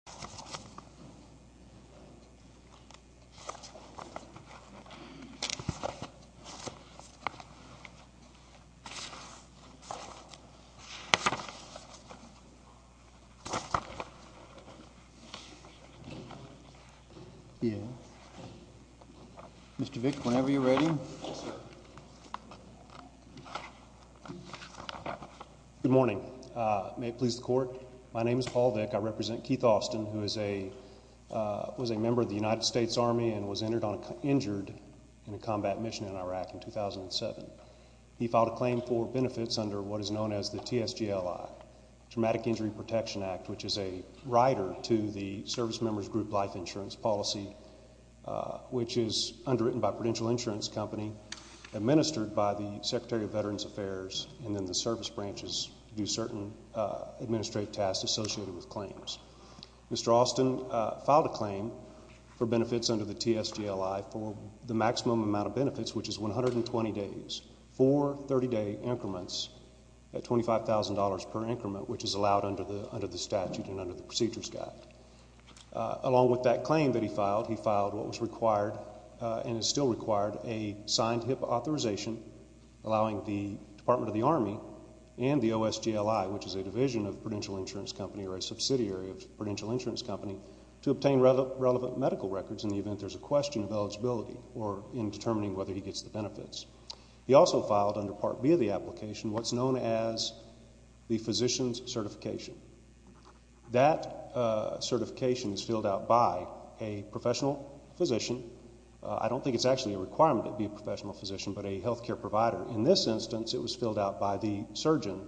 Attorney General Paul Vick, U.S. Supreme Court Judge Mr. Vick, whenever you're ready. Good morning. May it please the court, my name is Paul Vick, I represent Keith Austin who was a member of the United States Army and was injured in a combat mission in Iraq in 2007. He filed a claim for benefits under what is known as the TSGLI, Traumatic Injury Protection Act, which is a rider to the Service Members Group Life Insurance Policy, which is underwritten by Prudential Insurance Company, administered by the Secretary of Veterans Affairs and then the service branches do certain administrative tasks associated with claims. Mr. Austin filed a claim for benefits under the TSGLI for the maximum amount of benefits, which is 120 days, four 30-day increments at $25,000 per increment, which is allowed under the statute and under the procedures guide. Along with that claim that he filed, he filed what was required and is still required, a signed HIPAA authorization allowing the Department of the Army and the OSGLI, which is a division of Prudential Insurance Company or a subsidiary of Prudential Insurance Company, to obtain relevant medical records in the event there's a question of eligibility or in determining whether he gets the benefits. He also filed under Part B of the application what's known as the Physician's Certification. That certification is filled out by a professional physician. I don't think it's actually a requirement to be a professional physician, but a health care provider. In this instance, it was filled out by the surgeon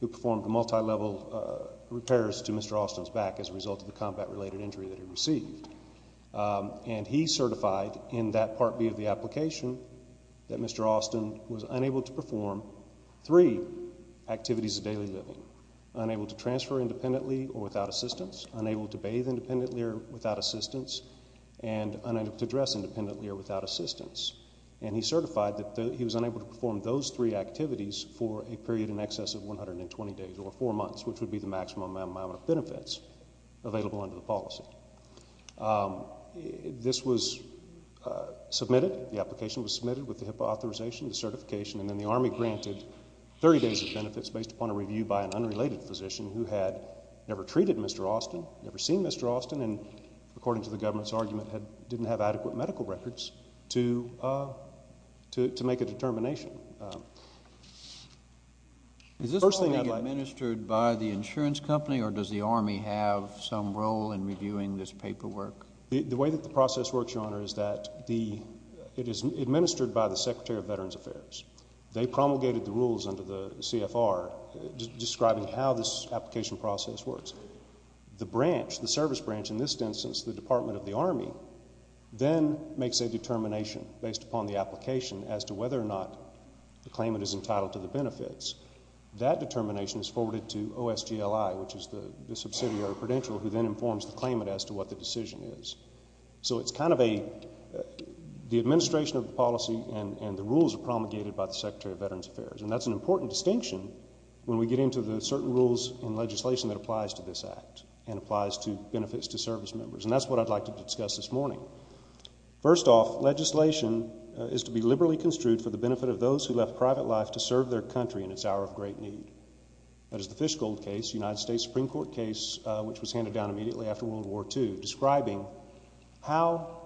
who performed multi-level repairs to Mr. Austin's back as a result of the combat-related injury that he received. And he certified in that Part B of the application that Mr. Austin was unable to perform three activities of daily living. Unable to transfer independently or without assistance, unable to bathe independently or without assistance, and unable to dress independently or without assistance. And he certified that he was unable to perform those three activities for a period in excess of 120 days, or four months, which would be the maximum amount of benefits available under the policy. This was submitted, the application was submitted with the HIPAA authorization, the certification, and then the Army granted 30 days of benefits based upon a review by an unrelated physician who had never treated Mr. Austin, never seen Mr. Austin, and according to the government's argument, didn't have adequate medical records to make a determination. Is this only administered by the insurance company or does the Army have some role in reviewing this paperwork? The way that the application is administered by the Secretary of Veterans Affairs. They promulgated the rules under the CFR describing how this application process works. The branch, the service branch, in this instance, the Department of the Army, then makes a determination based upon the application as to whether or not the claimant is entitled to the benefits. That determination is forwarded to OSGLI, which is the subsidiary credential who then informs the claimant as to what the decision is. So it's kind of a, the administration of the policy and the rules are promulgated by the Secretary of Veterans Affairs. And that's an important distinction when we get into the certain rules in legislation that applies to this act and applies to benefits to service members. And that's what I'd like to discuss this morning. First off, legislation is to be liberally construed for the benefit of those who left private life to serve their country in its hour of great need. That is the Fishgold case, United States Supreme Court case, which was handed down immediately after World War II, describing how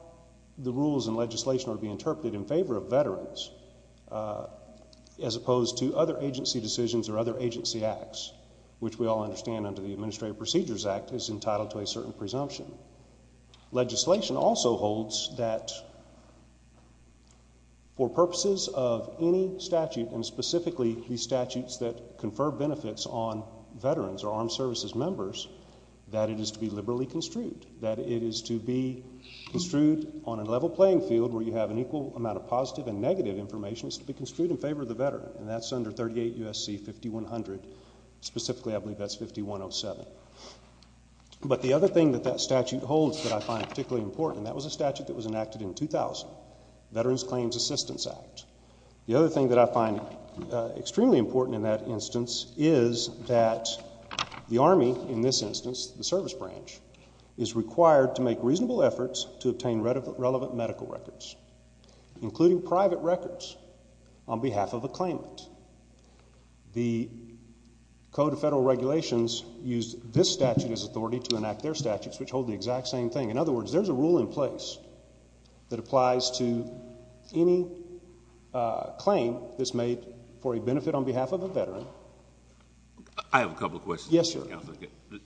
the rules and legislation are being interpreted in favor of veterans as opposed to other agency decisions or other agency acts, which we all understand under the Administrative Procedures Act is entitled to a certain presumption. Legislation also holds that for purposes of any statute, and specifically the statutes that confer benefits on veterans or armed services members, that it is to be liberally construed, that it is to be construed on a level playing field where you have an equal amount of positive and negative information. It's to be construed in favor of the veteran. And that's under 38 U.S.C. 5100. Specifically, I believe that's 5107. But the other thing that that statute holds that I find particularly important, and that was a statute that was enacted in 2000, Veterans Claims Assistance Act. The other thing that I find extremely important in that instance is that the Army, in this instance, the service branch, is required to make reasonable efforts to obtain relevant medical records, including private records, on behalf of a claimant. The Code of Federal Regulations used this statute as authority to enact their statutes, which hold the exact same thing. In other words, there's a rule in place that applies to any claim that's made for a benefit on behalf of a veteran. I have a couple of questions. Yes, Your Honor.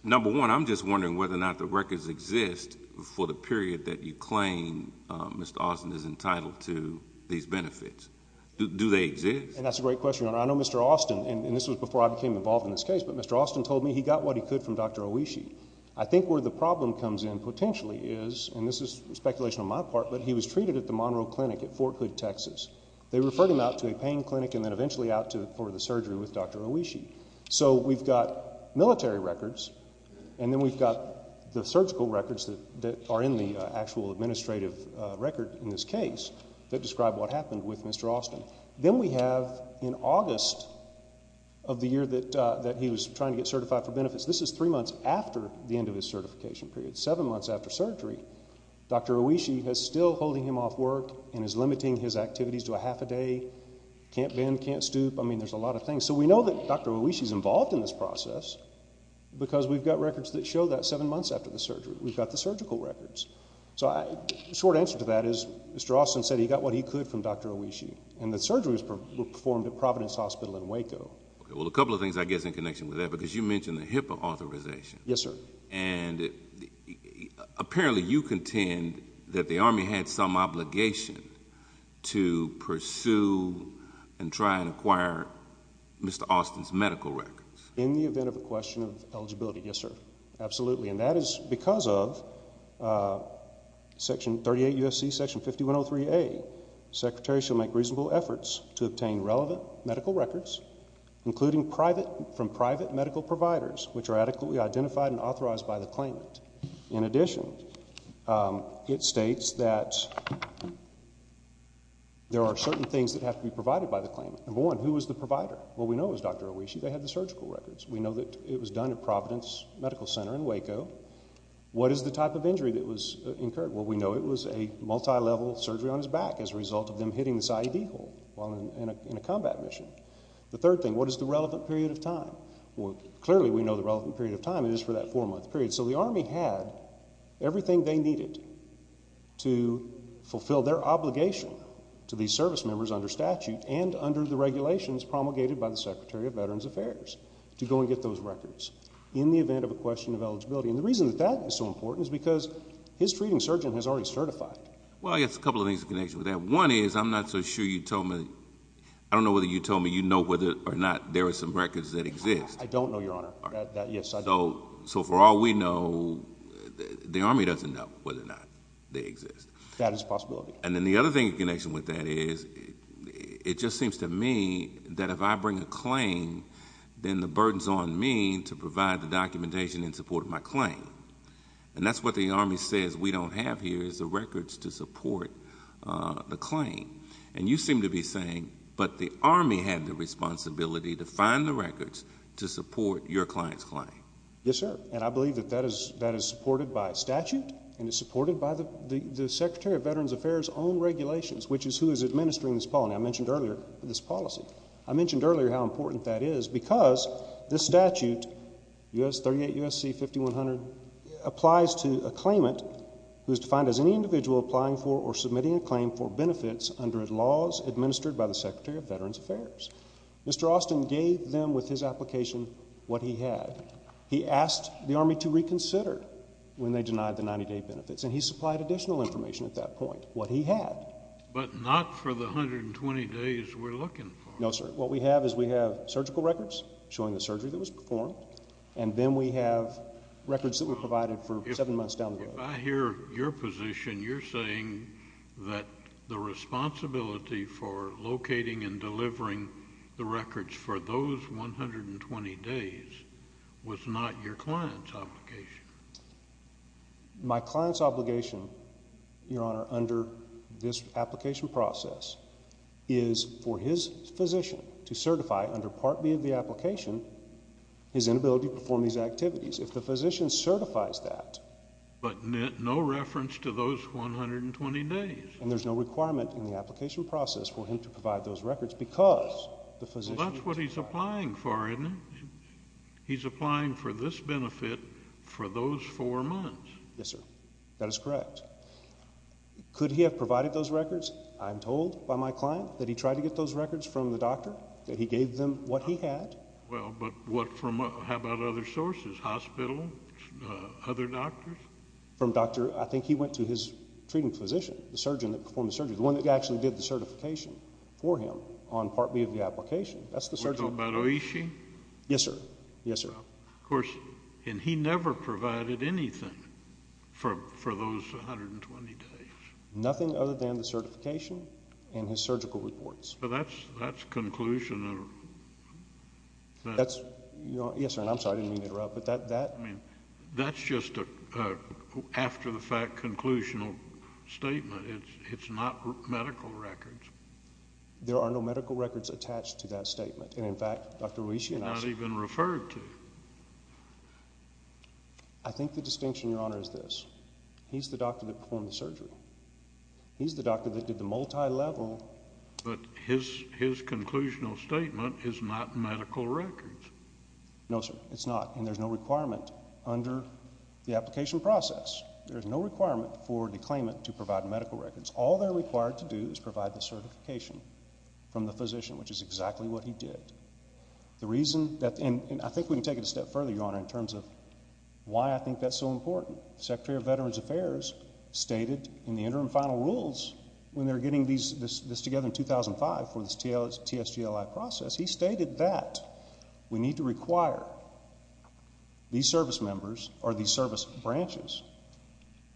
Number one, I'm just wondering whether or not the records exist for the period that you claim Mr. Austin is entitled to these benefits. Do they exist? And that's a great question, Your Honor. I know Mr. Austin, and this was before I became involved in this case, but Mr. Austin told me he got what he could from Dr. Oishi. I think where the problem comes in, potentially, is, and this is speculation on my part, but he was treated at the Monroe Clinic at Fort Hood, Texas. They referred him out to a pain clinic and then eventually out for the surgery with Dr. Oishi. So we've got military records, and then we've got the surgical records that are in the actual administrative record in this case that describe what happened with Mr. Austin. Then we have, in August of the year that he was trying to get certified for benefits, this is three months after the end of his certification period, seven months after surgery, Dr. Oishi is still holding him off work and is limiting his activities to a half a day, can't bend, can't stoop. I mean, there's a lot of things. So we know that Dr. Oishi is involved in this process because we've got records that show that seven months after the surgery. We've got the surgical records. So the short answer to that is Mr. Austin said he got what he could from Dr. Oishi, and the surgery was performed at Providence Hospital in Waco. Well, a couple of things I guess in connection with that, because you mentioned the HIPAA authorization. Yes, sir. And apparently you contend that the Army had some obligation to pursue and try and acquire Mr. Austin's medical records. In the event of a question of eligibility, yes, sir. Absolutely. And that is because of Section 38 U.S.C. Section 5103A, Secretary shall make reasonable efforts to obtain relevant medical records, including from private medical providers, which are adequately identified and authorized by the claimant. In addition, it states that there are certain things that have to be provided by the claimant. Number one, who was the provider? Well, we know it was Dr. Oishi. They had the surgical records. We know that it was done at Providence Medical Center in Waco. What is the type of injury that was incurred? Well, we know it was a multilevel surgery on his back as a result of them hitting this IED hole while in a combat mission. The third thing, what is the relevant period of time? Well, clearly we know the relevant period of time is for that four-month period. So the Army had everything they needed to fulfill their obligation to these service members under statute and under the regulations promulgated by the Secretary of Veterans Affairs to go and get those records in the event of a question of eligibility. And the reason that that is so important is because his treating surgeon has already certified. Well, I guess a couple of things in connection with that. One is I'm not so sure you told me, I don't know whether you told me you know whether or not there are some records that exist. I don't know, Your Honor. All right. Yes, I do. So for all we know, the Army doesn't know whether or not they exist. That is a possibility. And then the other thing in connection with that is it just seems to me that if I bring a claim, then the burden's on me to provide the documentation in support of my claim. And that's what the Army says we don't have here is the records to support the claim. And you seem to be saying, but the Army had the responsibility to find the records to support your client's claim. Yes, sir. And I believe that that is supported by statute and is supported by the Secretary of Veterans Affairs' own regulations, which is who is administering this policy. I mentioned earlier this policy. I mentioned earlier how important that is because this statute, 38 U.S.C. 5100, applies to a claimant who is defined as any individual applying for or submitting a claim for benefits under laws administered by the Secretary of Veterans Affairs. Mr. Austin gave them with his application what he had. He asked the Army to reconsider when they denied the 90-day benefits. And he supplied additional information at that point, what he had. But not for the 120 days we're looking for. No, sir. What we have is we have surgical records showing the surgery that was performed, and then we have records that were provided for seven months down the road. If I hear your position, you're saying that the responsibility for locating and delivering the records for those 120 days was not your client's obligation. My client's obligation, Your Honor, under this application process is for his physician to certify under Part B of the application his inability to perform these activities. If the physician certifies that. But no reference to those 120 days. And there's no requirement in the application process for him to provide those records because the physician. Well, that's what he's applying for, isn't it? He's applying for this benefit for those four months. Yes, sir. That is correct. Could he have provided those records? I'm told by my client that he tried to get those records from the doctor, that he gave them what he had. Well, but how about other sources? Hospital? Other doctors? From a doctor. I think he went to his treating physician, the surgeon that performed the surgery, the one that actually did the certification for him on Part B of the application. That's the surgeon. Are you talking about Oishi? Yes, sir. Yes, sir. Of course, and he never provided anything for those 120 days. Nothing other than the certification and his surgical reports. Well, that's conclusional. Yes, sir, and I'm sorry. I didn't mean to interrupt. That's just an after-the-fact, conclusional statement. It's not medical records. There are no medical records attached to that statement. And, in fact, Dr. Oishi and I. Not even referred to. I think the distinction, Your Honor, is this. He's the doctor that performed the surgery. He's the doctor that did the multi-level. But his conclusional statement is not medical records. No, sir. It's not, and there's no requirement under the application process. There's no requirement for the claimant to provide medical records. All they're required to do is provide the certification from the physician, which is exactly what he did. The reason that, and I think we can take it a step further, Your Honor, in terms of why I think that's so important. The Secretary of Veterans Affairs stated in the interim final rules, when they were getting this together in 2005 for this TSGLI process, he stated that we need to require these service members or these service branches.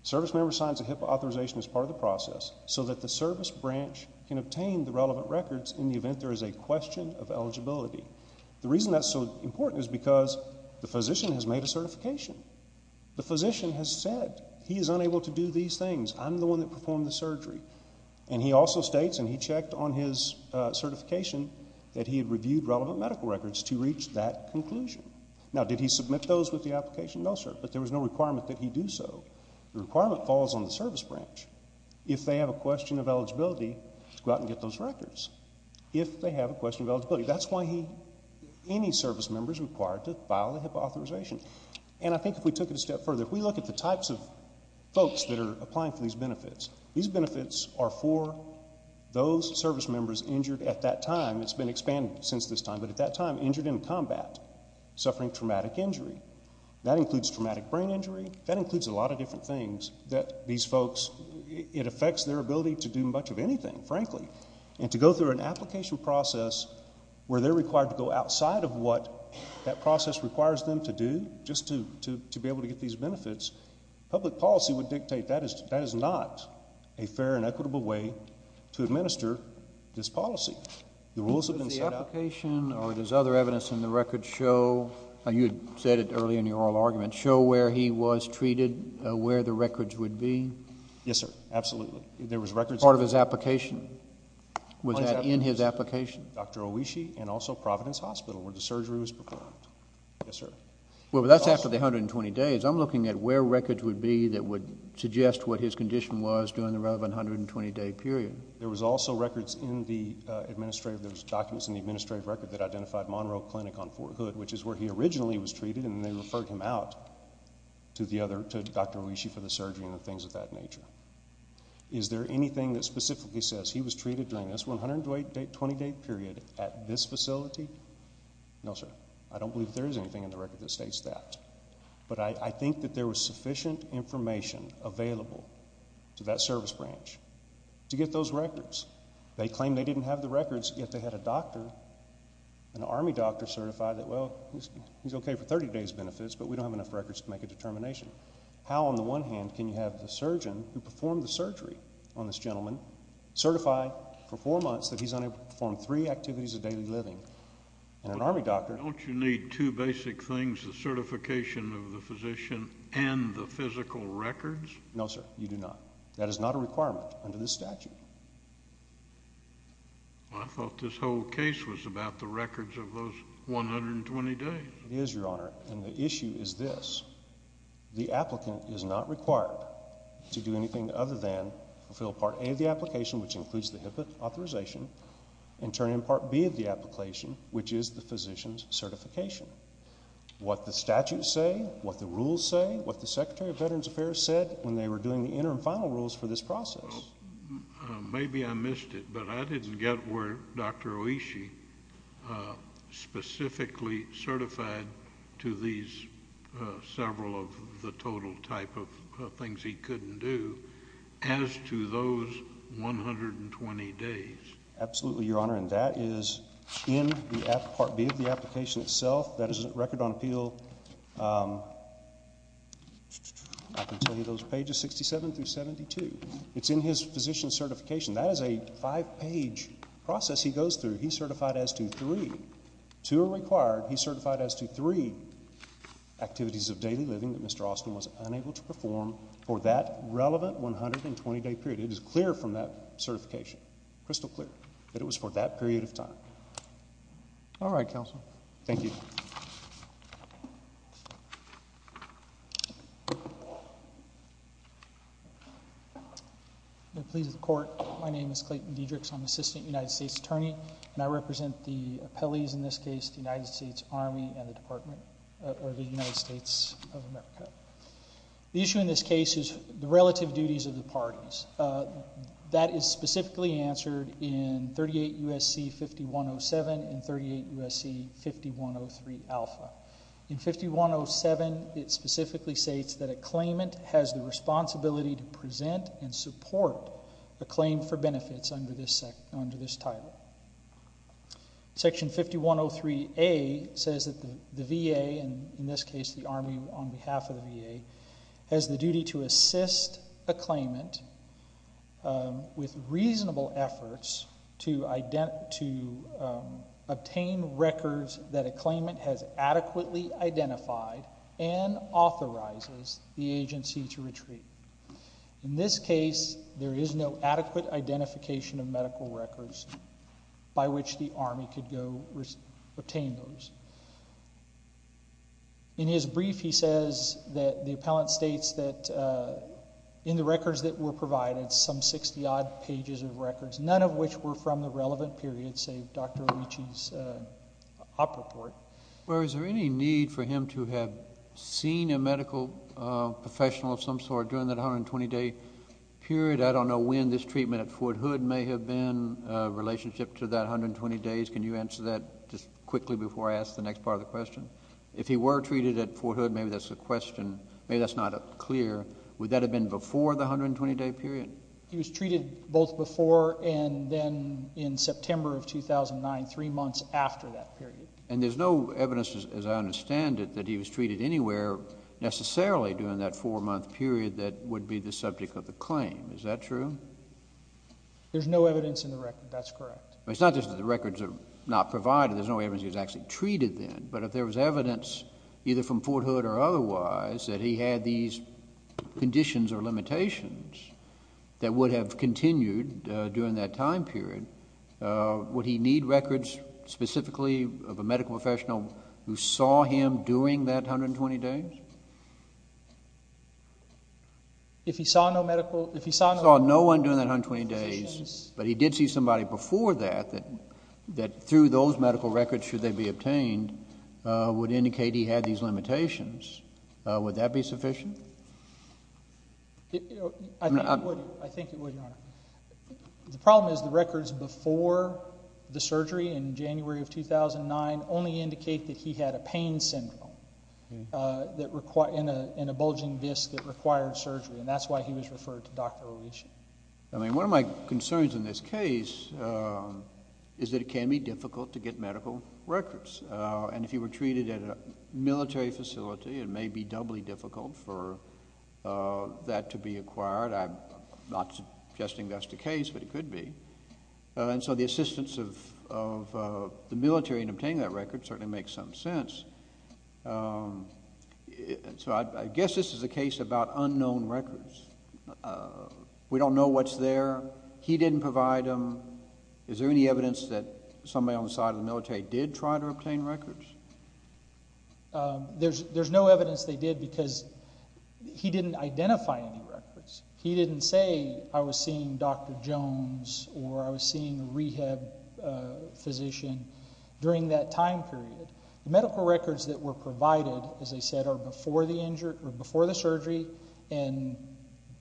Service member signs a HIPAA authorization as part of the process so that the service branch can obtain the relevant records in the event there is a question of eligibility. The reason that's so important is because the physician has made a certification. The physician has said he is unable to do these things. I'm the one that performed the surgery. And he also states, and he checked on his certification, that he had reviewed relevant medical records to reach that conclusion. Now, did he submit those with the application? No, sir. But there was no requirement that he do so. The requirement falls on the service branch. If they have a question of eligibility, go out and get those records. If they have a question of eligibility. That's why any service member is required to file a HIPAA authorization. And I think if we took it a step further, if we look at the types of folks that are applying for these benefits, these benefits are for those service members injured at that time. It's been expanded since this time. But at that time, injured in combat, suffering traumatic injury. That includes traumatic brain injury. That includes a lot of different things that these folks, it affects their ability to do much of anything, frankly. And to go through an application process where they're required to go outside of what that process requires them to do just to be able to get these benefits, public policy would dictate that is not a fair and equitable way to administer this policy. The rules have been set up. With the application or does other evidence in the record show, you had said it earlier in your oral argument, show where he was treated, where the records would be? Yes, sir. Absolutely. Part of his application? Was that in his application? Dr. Owishi and also Providence Hospital where the surgery was performed. Yes, sir. Well, that's after the 120 days. I'm looking at where records would be that would suggest what his condition was during the relevant 120-day period. There was also records in the administrative, there was documents in the administrative record that identified Monroe Clinic on Fort Hood, which is where he originally was treated and they referred him out to Dr. Owishi for the surgery and things of that nature. Is there anything that specifically says he was treated during this 120-day period at this facility? No, sir. I don't believe there is anything in the record that states that. But I think that there was sufficient information available to that service branch to get those records. They claim they didn't have the records yet they had a doctor, an Army doctor, certify that, well, he's okay for 30 days benefits but we don't have enough records to make a determination. How on the one hand can you have the surgeon who performed the surgery on this gentleman certify for four months that he's unable to perform three activities of daily living and an Army doctor... Don't you need two basic things, the certification of the physician and the physical records? No, sir, you do not. That is not a requirement under this statute. I thought this whole case was about the records of those 120 days. It is, Your Honor, and the issue is this. The applicant is not required to do anything other than fulfill Part A of the application, which includes the HIPAA authorization, and turn in Part B of the application, which is the physician's certification. What the statutes say, what the rules say, what the Secretary of Veterans Affairs said when they were doing the interim final rules for this process. Maybe I missed it, but I didn't get where Dr. Oishi specifically certified to these several of the total type of things he couldn't do as to those 120 days. Absolutely, Your Honor, and that is in Part B of the application itself. That is a record on appeal. I can tell you those pages, 67 through 72. It's in his physician's certification. That is a five-page process he goes through. He's certified as to three. Two are required. He's certified as to three activities of daily living that Mr. Austin was unable to perform for that relevant 120-day period. It is clear from that certification. Crystal clear that it was for that period of time. All right, Counselor. Thank you. Please, the Court. My name is Clayton Dedricks. I'm Assistant United States Attorney, and I represent the appellees in this case, the United States Army and the Department of the United States of America. The issue in this case is the relative duties of the parties. That is specifically answered in 38 U.S.C. 5107 and 38 U.S.C. 5103 Alpha. In 5107, it specifically states that a claimant has the responsibility to present and support a claim for benefits under this title. Section 5103A says that the VA, and in this case the Army on behalf of the VA, has the duty to assist a claimant with reasonable efforts to obtain records that a claimant has adequately identified and authorizes the agency to retreat. In this case, there is no adequate identification of medical records by which the Army could go obtain those. In his brief, he says that the appellant states that in the records that were provided, some 60-odd pages of records, none of which were from the relevant period, save Dr. Oricci's op report. Well, is there any need for him to have seen a medical professional of some sort during that 120-day period? I don't know when this treatment at Fort Hood may have been in relationship to that 120 days. Can you answer that just quickly before I ask the next part of the question? If he were treated at Fort Hood, maybe that's a question, maybe that's not clear. Would that have been before the 120-day period? He was treated both before and then in September of 2009, 3 months after that period. And there's no evidence, as I understand it, that he was treated anywhere necessarily during that 4-month period that would be the subject of the claim. Is that true? There's no evidence in the record. That's correct. It's not just that the records are not provided. There's no evidence he was actually treated then. But if there was evidence either from Fort Hood or otherwise that he had these conditions or limitations that would have continued during that time period, would he need records specifically of a medical professional who saw him during that 120 days? If he saw no medical... If he saw no one during that 120 days, but he did see somebody before that, that through those medical records, should they be obtained, would indicate he had these limitations, would that be sufficient? I think it would, Your Honour. The problem is the records before the surgery, in January of 2009, only indicate that he had a pain syndrome and a bulging disc that required surgery, and that's why he was referred to Dr Olesch. One of my concerns in this case is that it can be difficult to get medical records. And if he were treated at a military facility, it may be doubly difficult for that to be acquired. I'm not suggesting that's the case, but it could be. And so the assistance of the military in obtaining that record certainly makes some sense. So I guess this is a case about unknown records. We don't know what's there. He didn't provide them. Is there any evidence that somebody on the side of the military did try to obtain records? There's no evidence they did because he didn't identify any records. He didn't say, I was seeing Dr Jones or I was seeing a rehab physician during that time period. The medical records that were provided, as I said, are before the surgery, and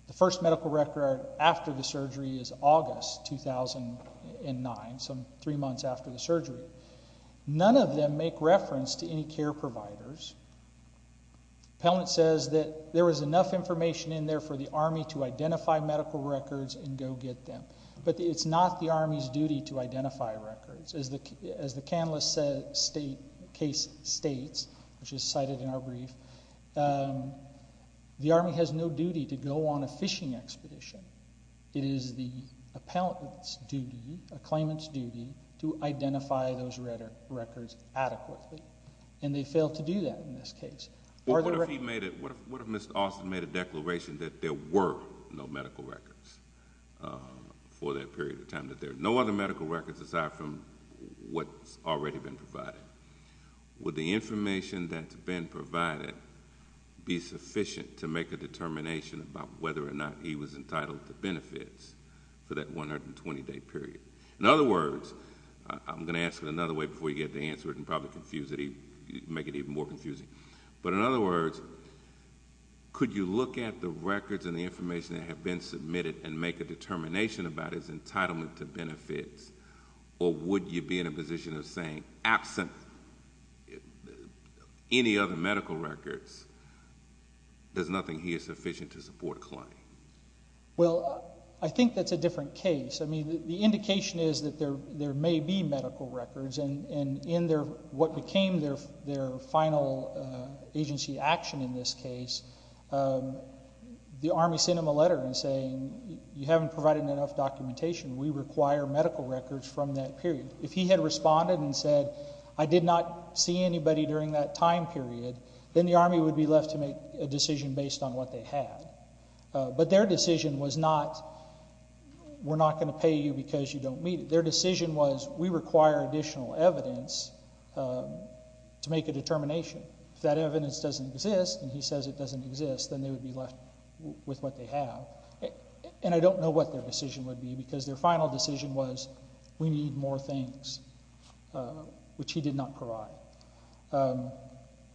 the first medical record after the surgery is August 2009, so 3 months after the surgery. None of them make reference to any care providers. Pellnant says that there was enough information in there for the Army to identify medical records and go get them. But it's not the Army's duty to identify records. As the Canlis case states, which is cited in our brief, the Army has no duty to go on a fishing expedition. It is the appellant's duty, a claimant's duty, to identify those records adequately, and they failed to do that in this case. What if he made it, what if Mr. Austin made a declaration that there were no medical records for that period of time, that there are no other medical records aside from what's already been provided? Would the information that's been provided be sufficient to make a determination about whether or not he was entitled to benefits for that 120-day period? In other words, I'm gonna ask it another way before you get to answer it and probably confuse it, make it even more confusing, but in other words, could you look at the records and the information that have been submitted and make a determination about his entitlement to benefits, or would you be in a position of saying, absent any other medical records, there's nothing here sufficient to support a claim? Well, I think that's a different case. I mean, the indication is that there may be medical records, and in what became their final agency action in this case, the Army sent him a letter saying, you haven't provided enough documentation. We require medical records from that period. If he had responded and said, I did not see anybody during that time period, then the Army would be left to make a decision based on what they had. But their decision was not, we're not gonna pay you because you don't meet it. Their decision was, we require additional evidence to make a determination. If that evidence doesn't exist, and he says it doesn't exist, then they would be left with what they have. And I don't know what their decision would be, because their final decision was, we need more things, which he did not provide.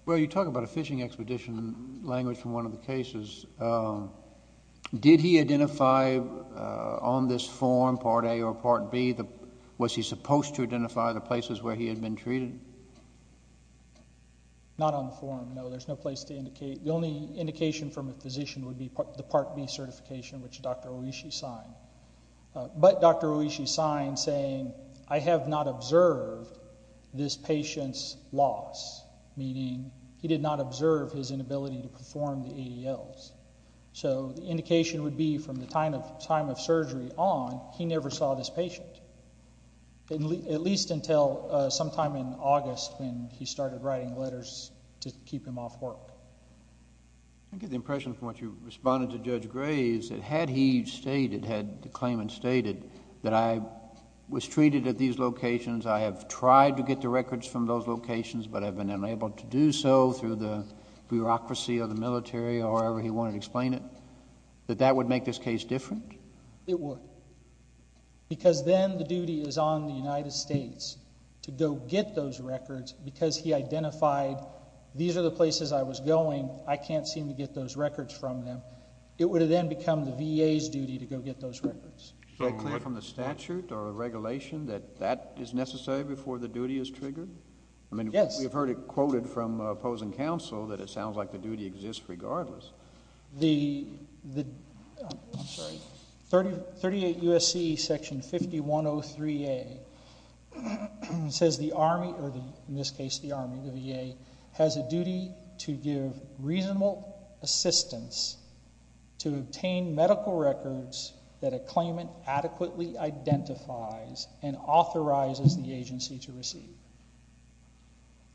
Well, you talk about a fishing expedition language from one of the cases. Did he identify on this form, Part A or Part B, was he supposed to identify the places where he had been treated? Not on the form, no. There's no place to indicate. The only indication from a physician would be the Part B certification, which Dr. Oishi signed. But Dr. Oishi signed saying, I have not observed this patient's loss. Meaning, he did not observe his inability to perform the ADLs. So the indication would be from the time of surgery on, he never saw this patient. At least until sometime in August when he started writing letters to keep him off work. I get the impression from what you responded to Judge Gray, is that had he stated, had the claimant stated that I was treated at these locations, I have tried to get the records from those locations, but have been unable to do so through the bureaucracy of the military or however he wanted to explain it, that that would make this case different? It would. Because then the duty is on the United States to go get those records because he identified these are the places I was going, I can't seem to get those records from them. It would have then become the VA's duty to go get those records. Is that clear from the statute or regulation that that is necessary before the duty is triggered? We've heard it quoted from opposing counsel that it sounds like the duty exists regardless. 38 U.S.C. section 5103A says the Army or in this case the Army, the VA has a duty to give reasonable assistance to obtain medical records that a claimant adequately identifies and authorizes the agency to receive.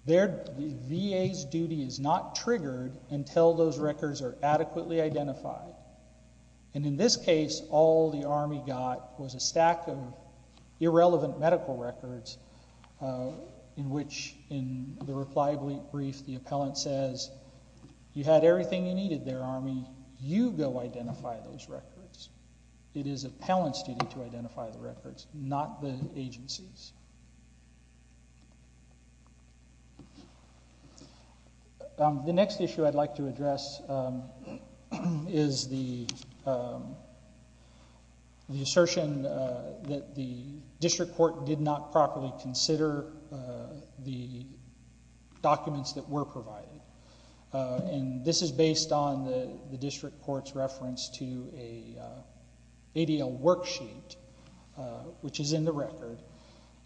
The VA's duty is not triggered until those records are adequately identified. And in this case, all the Army got was a stack of irrelevant medical records in which in the reply brief the appellant says you had everything you needed there, Army. You go identify those records. It is the appellant's duty to identify the records, not the agency's. The next issue I'd like to address is the assertion that the district court did not properly consider the documents that were provided. And this is based on the district court's reference to a ADL worksheet which is in the record.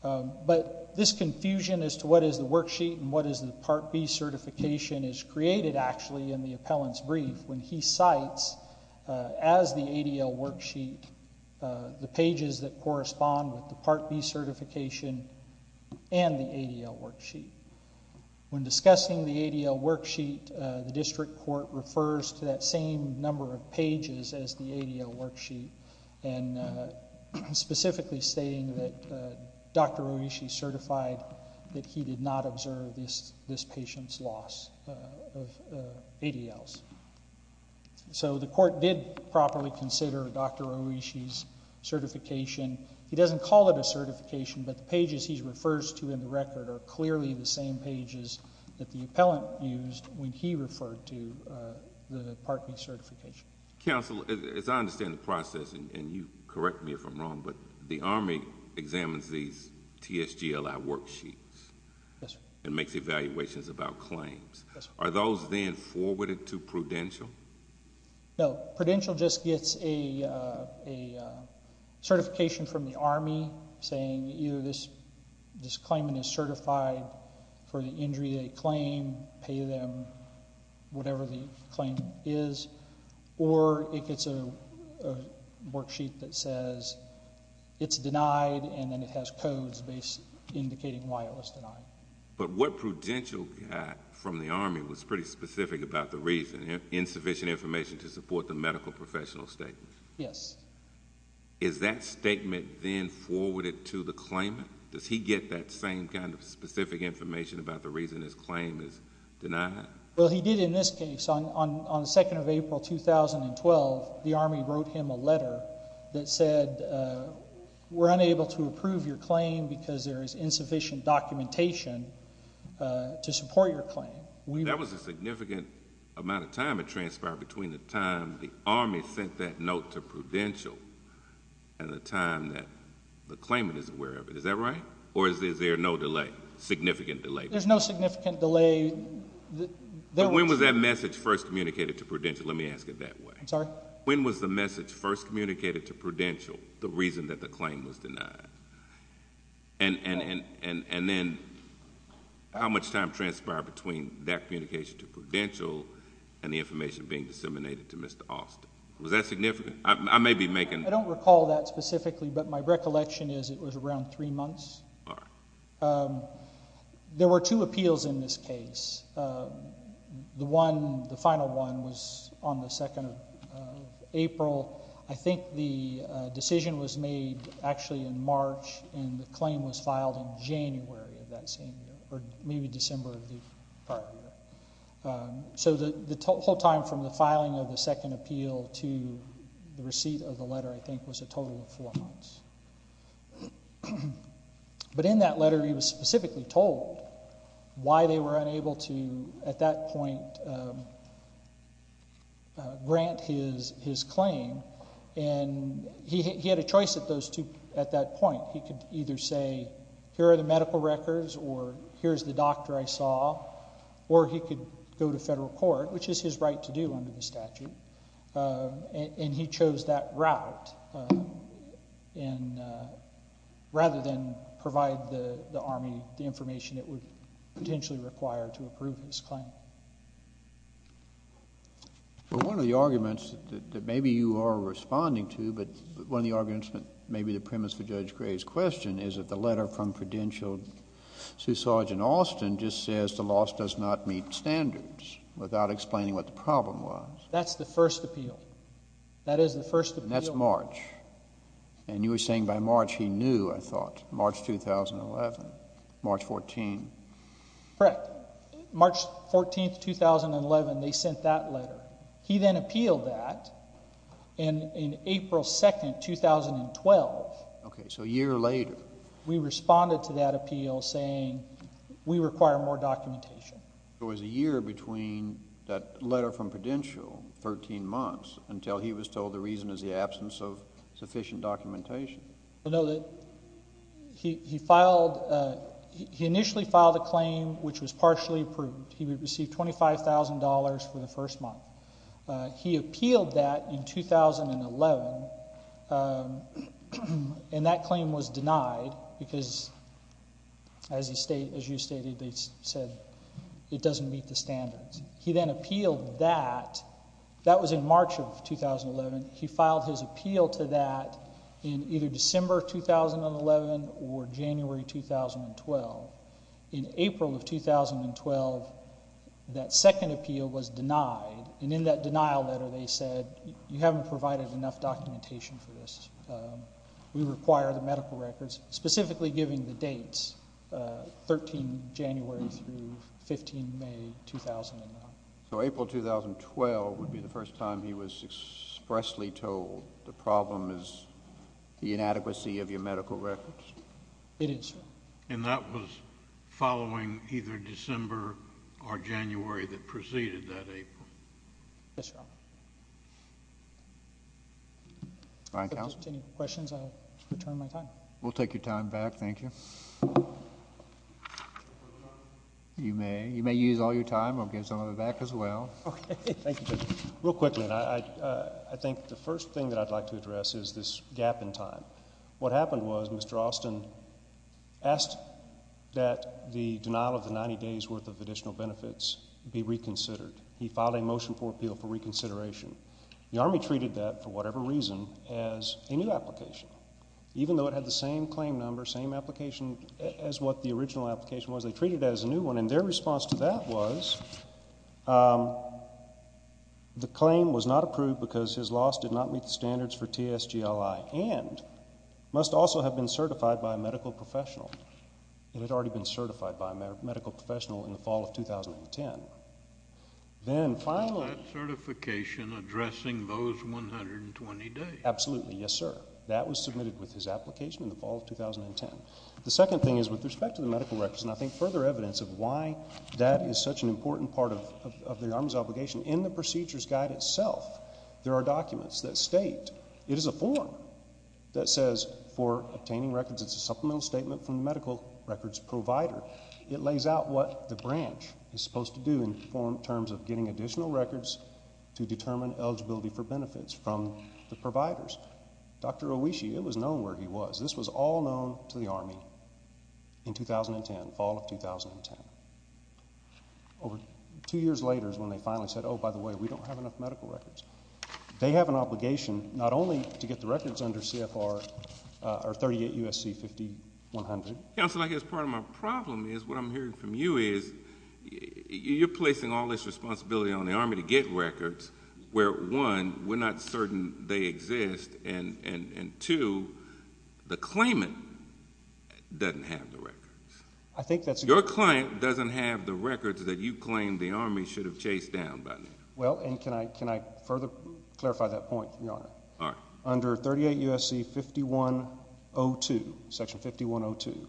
But this confusion as to what is the worksheet and what is the Part B certification is created actually in the appellant's brief when he cites as the ADL worksheet the pages that correspond with the Part B certification and the ADL worksheet. When discussing the ADL worksheet, the district court refers to that same number of pages as the ADL worksheet and specifically stating that Dr. Oishi certified that he did not observe this patient's loss of ADLs. So the court did properly consider Dr. Oishi's certification. He doesn't call it a certification, but the pages he referred to are the same pages that the appellant used when he referred to the Part B certification. Counsel, as I understand the process, and you correct me if I'm wrong, but the Army examines these TSGLI worksheets and makes evaluations about claims. Are those then forwarded to Prudential? No. Prudential just gets a certification from the Army saying either this claimant is certified for the injury they claim, pay them whatever the claim is, or it gets a worksheet that says it's denied and then it has codes indicating why it was denied. But what Prudential got from the Army was pretty specific about the reason. Insufficient information to support the medical professional statement. Yes. Is that the claimant? Does he get that same kind of specific information about the reason his claim is denied? Well, he did in this case. On 2 April 2012, the Army wrote him a letter that said, we're unable to approve your claim because there is insufficient documentation to support your claim. That was a significant amount of time that transpired between the time the Army sent that note to Prudential and the time that the claimant is aware of it. Is that right? Or is there no delay? Significant delay? There's no significant delay. When was that message first communicated to Prudential? Let me ask it that way. I'm sorry? When was the message first communicated to Prudential the reason that the claim was denied? And then how much time transpired between that communication to Prudential and the information being disseminated to Mr. Austin? Was that significant? I don't recall that specifically, but my recollection is it was around three months. There were two appeals in this case. The final one was on the 2nd of April. I think the decision was made actually in March and the claim was filed in January of that same year, or maybe December of the prior year. So the whole time from the filing of the second appeal to the receipt of the letter, I think, was a total of four months. But in that letter he was specifically told why they were unable to at that point grant his claim. He had a choice at that point. He could either say here are the medical records or here's the doctor I saw or he could go to federal and he chose that route rather than provide the Army the information it would potentially require to approve his claim. One of the arguments that maybe you are responding to but one of the arguments that maybe the premise for Judge Gray's question is that the letter from Prudential Sgt. Austin just says the loss does not meet standards without explaining what the problem was. That's the first appeal. That is the first appeal. And that's March. And you were saying by March he knew, I thought, March 2011. March 14. Correct. March 14, 2011, they sent that letter. He then appealed that and in April 2, 2012 Okay, so a year later we responded to that appeal saying we require more documentation. It was a year between that letter from Prudential 13 months until he was told the reason is the absence of sufficient documentation. He filed he initially filed a claim which was partially approved. He would receive $25,000 for the first month. He appealed that in 2011 and that claim was denied because as you stated they said it doesn't meet the standards. He then appealed that. That was in March of 2011. He filed his appeal to that in either December 2011 or January 2012. In April of 2012 that second appeal was denied and in that denial letter they said you haven't provided enough documentation for this. We require the medical records, specifically giving the dates 13 January through 15 May 2009. So April 2012 would be the first time he was expressly told the problem is the inadequacy of your medical records? It is, sir. And that was following either December or January that preceded that April? Yes, sir. If there's any questions I'll return my time. We'll take your time back. Thank you. You may. You may use all your time. We'll give some of it back as well. Real quickly I think the first thing that I'd like to address is this gap in time. What happened was Mr. Austin asked that the denial of the 90 days worth of additional benefits be reconsidered. He filed a motion for appeal for reconsideration. The Army treated that for whatever reason as a new application. Even though it had the same claim number, same application as what the original application was they treated it as a new one. And their response to that was the claim was not approved because his loss did not meet the standards for TSGLI and must also have been certified by a medical professional. It had already been certified by a medical professional in the fall of 2010. Then finally... Is that certification addressing those 120 days? Absolutely. Yes sir. That was submitted with his application in the fall of 2010. The second thing is with respect to the medical records and I think further evidence of why that is such an important part of the Army's obligation. In the procedures guide itself there are documents that state it is a form that says for obtaining records it's a supplemental statement from the medical records provider. It lays out what the branch is supposed to do in terms of getting additional records to determine eligibility for benefits from the providers. Dr. Owishi, it was known where he was. This was all known to the Army in 2010, fall of 2010. Over two years later is when they finally said, oh by the way, we don't have enough medical records. They have an obligation not only to get the records under CFR, or 38 USC 5100. Counselor, I guess part of my problem is what I'm hearing from you is you're placing all this responsibility on the Army to get records where one, we're not certain they exist and two, the claimant doesn't have the records. Your client doesn't have the records that you claim the Army should have chased down by now. Well, and can I further clarify that point, Your Honor? Under 38 USC 5102, Section 5102,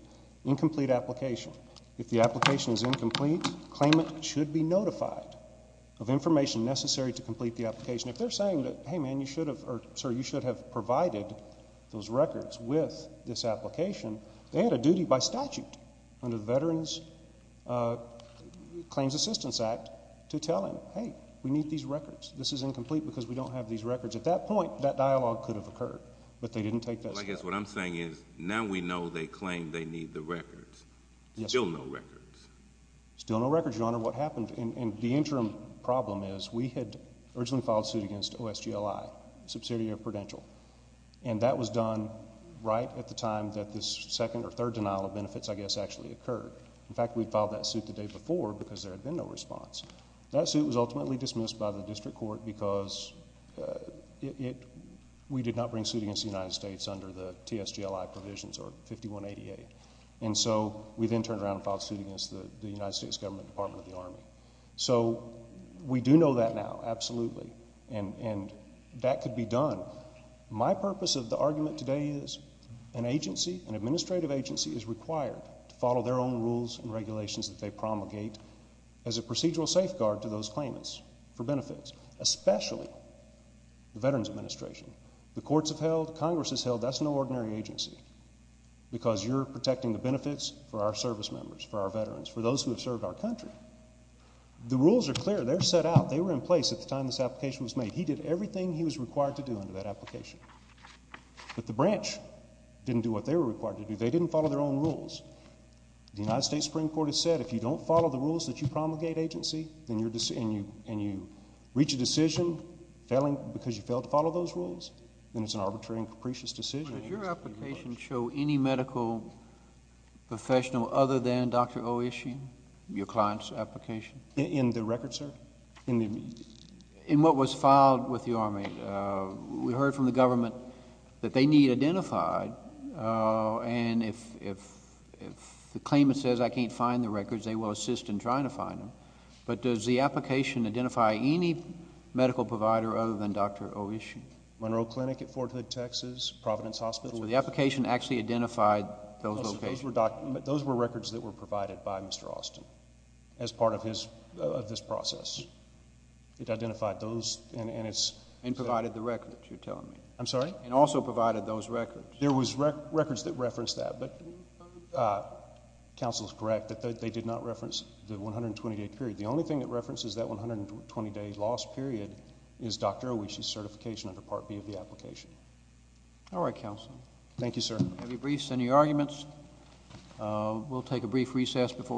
incomplete application. If the application is notified of information necessary to complete the application, if they're saying that, hey man, you should have, or sir, you should have provided those records with this application, they had a duty by statute under the Veterans Claims Assistance Act to tell him, hey, we need these records. This is incomplete because we don't have these records. At that point that dialogue could have occurred, but they didn't take that step. Well, I guess what I'm saying is now we know they claim they need the records. Still no records. Still no records, Your Honor. What happened in the interim problem is we had originally filed suit against OSGLI, a subsidiary of Prudential. And that was done right at the time that this second or third denial of benefits, I guess, actually occurred. In fact, we'd filed that suit the day before because there had been no response. That suit was ultimately dismissed by the district court because we did not bring suit against the United States under the TSGLI provisions or 5188. And so we then turned around and filed suit against the United States Government Department of the Army. So we do know that now, absolutely. And that could be done. My purpose of the argument today is an agency, an administrative agency is required to follow their own rules and regulations that they promulgate as a procedural safeguard to those claimants for benefits. Especially the Veterans Administration. The courts have held. Congress has held. That's no ordinary agency because you're protecting the benefits for our service members, for our veterans, for those who have served our country. The rules are clear. They're set out. They were in place at the time this application was made. He did everything he was required to do under that application. But the branch didn't do what they were required to do. They didn't follow their own rules. The United States Supreme Court has said if you don't follow the rules that you promulgate agency and you reach a decision because you failed to follow those rules, then it's an arbitrary and capricious decision. Does your application show any medical professional other than Dr. Oishi? Your client's application? In the record, sir? In what was filed with the Army. We heard from the government that they need identified. And if the claimant says I can't find the records, they will assist in trying to find them. But does the application identify any medical provider other than Dr. Oishi? Monroe Clinic at Fort Hood, Texas. Providence Hospital. So the application actually identified those locations? Those were records that were provided by Mr. Austin as part of his process. It identified those. And provided the records, you're telling me? I'm sorry? And also provided those records? There was records that referenced that, but counsel is correct that they did not reference the 120-day period. The only thing that references that 120-day loss period is Dr. Oishi's certification under Part B of the application. All right, counsel. Thank you, sir. Any briefs? Any arguments? We'll take a brief recess before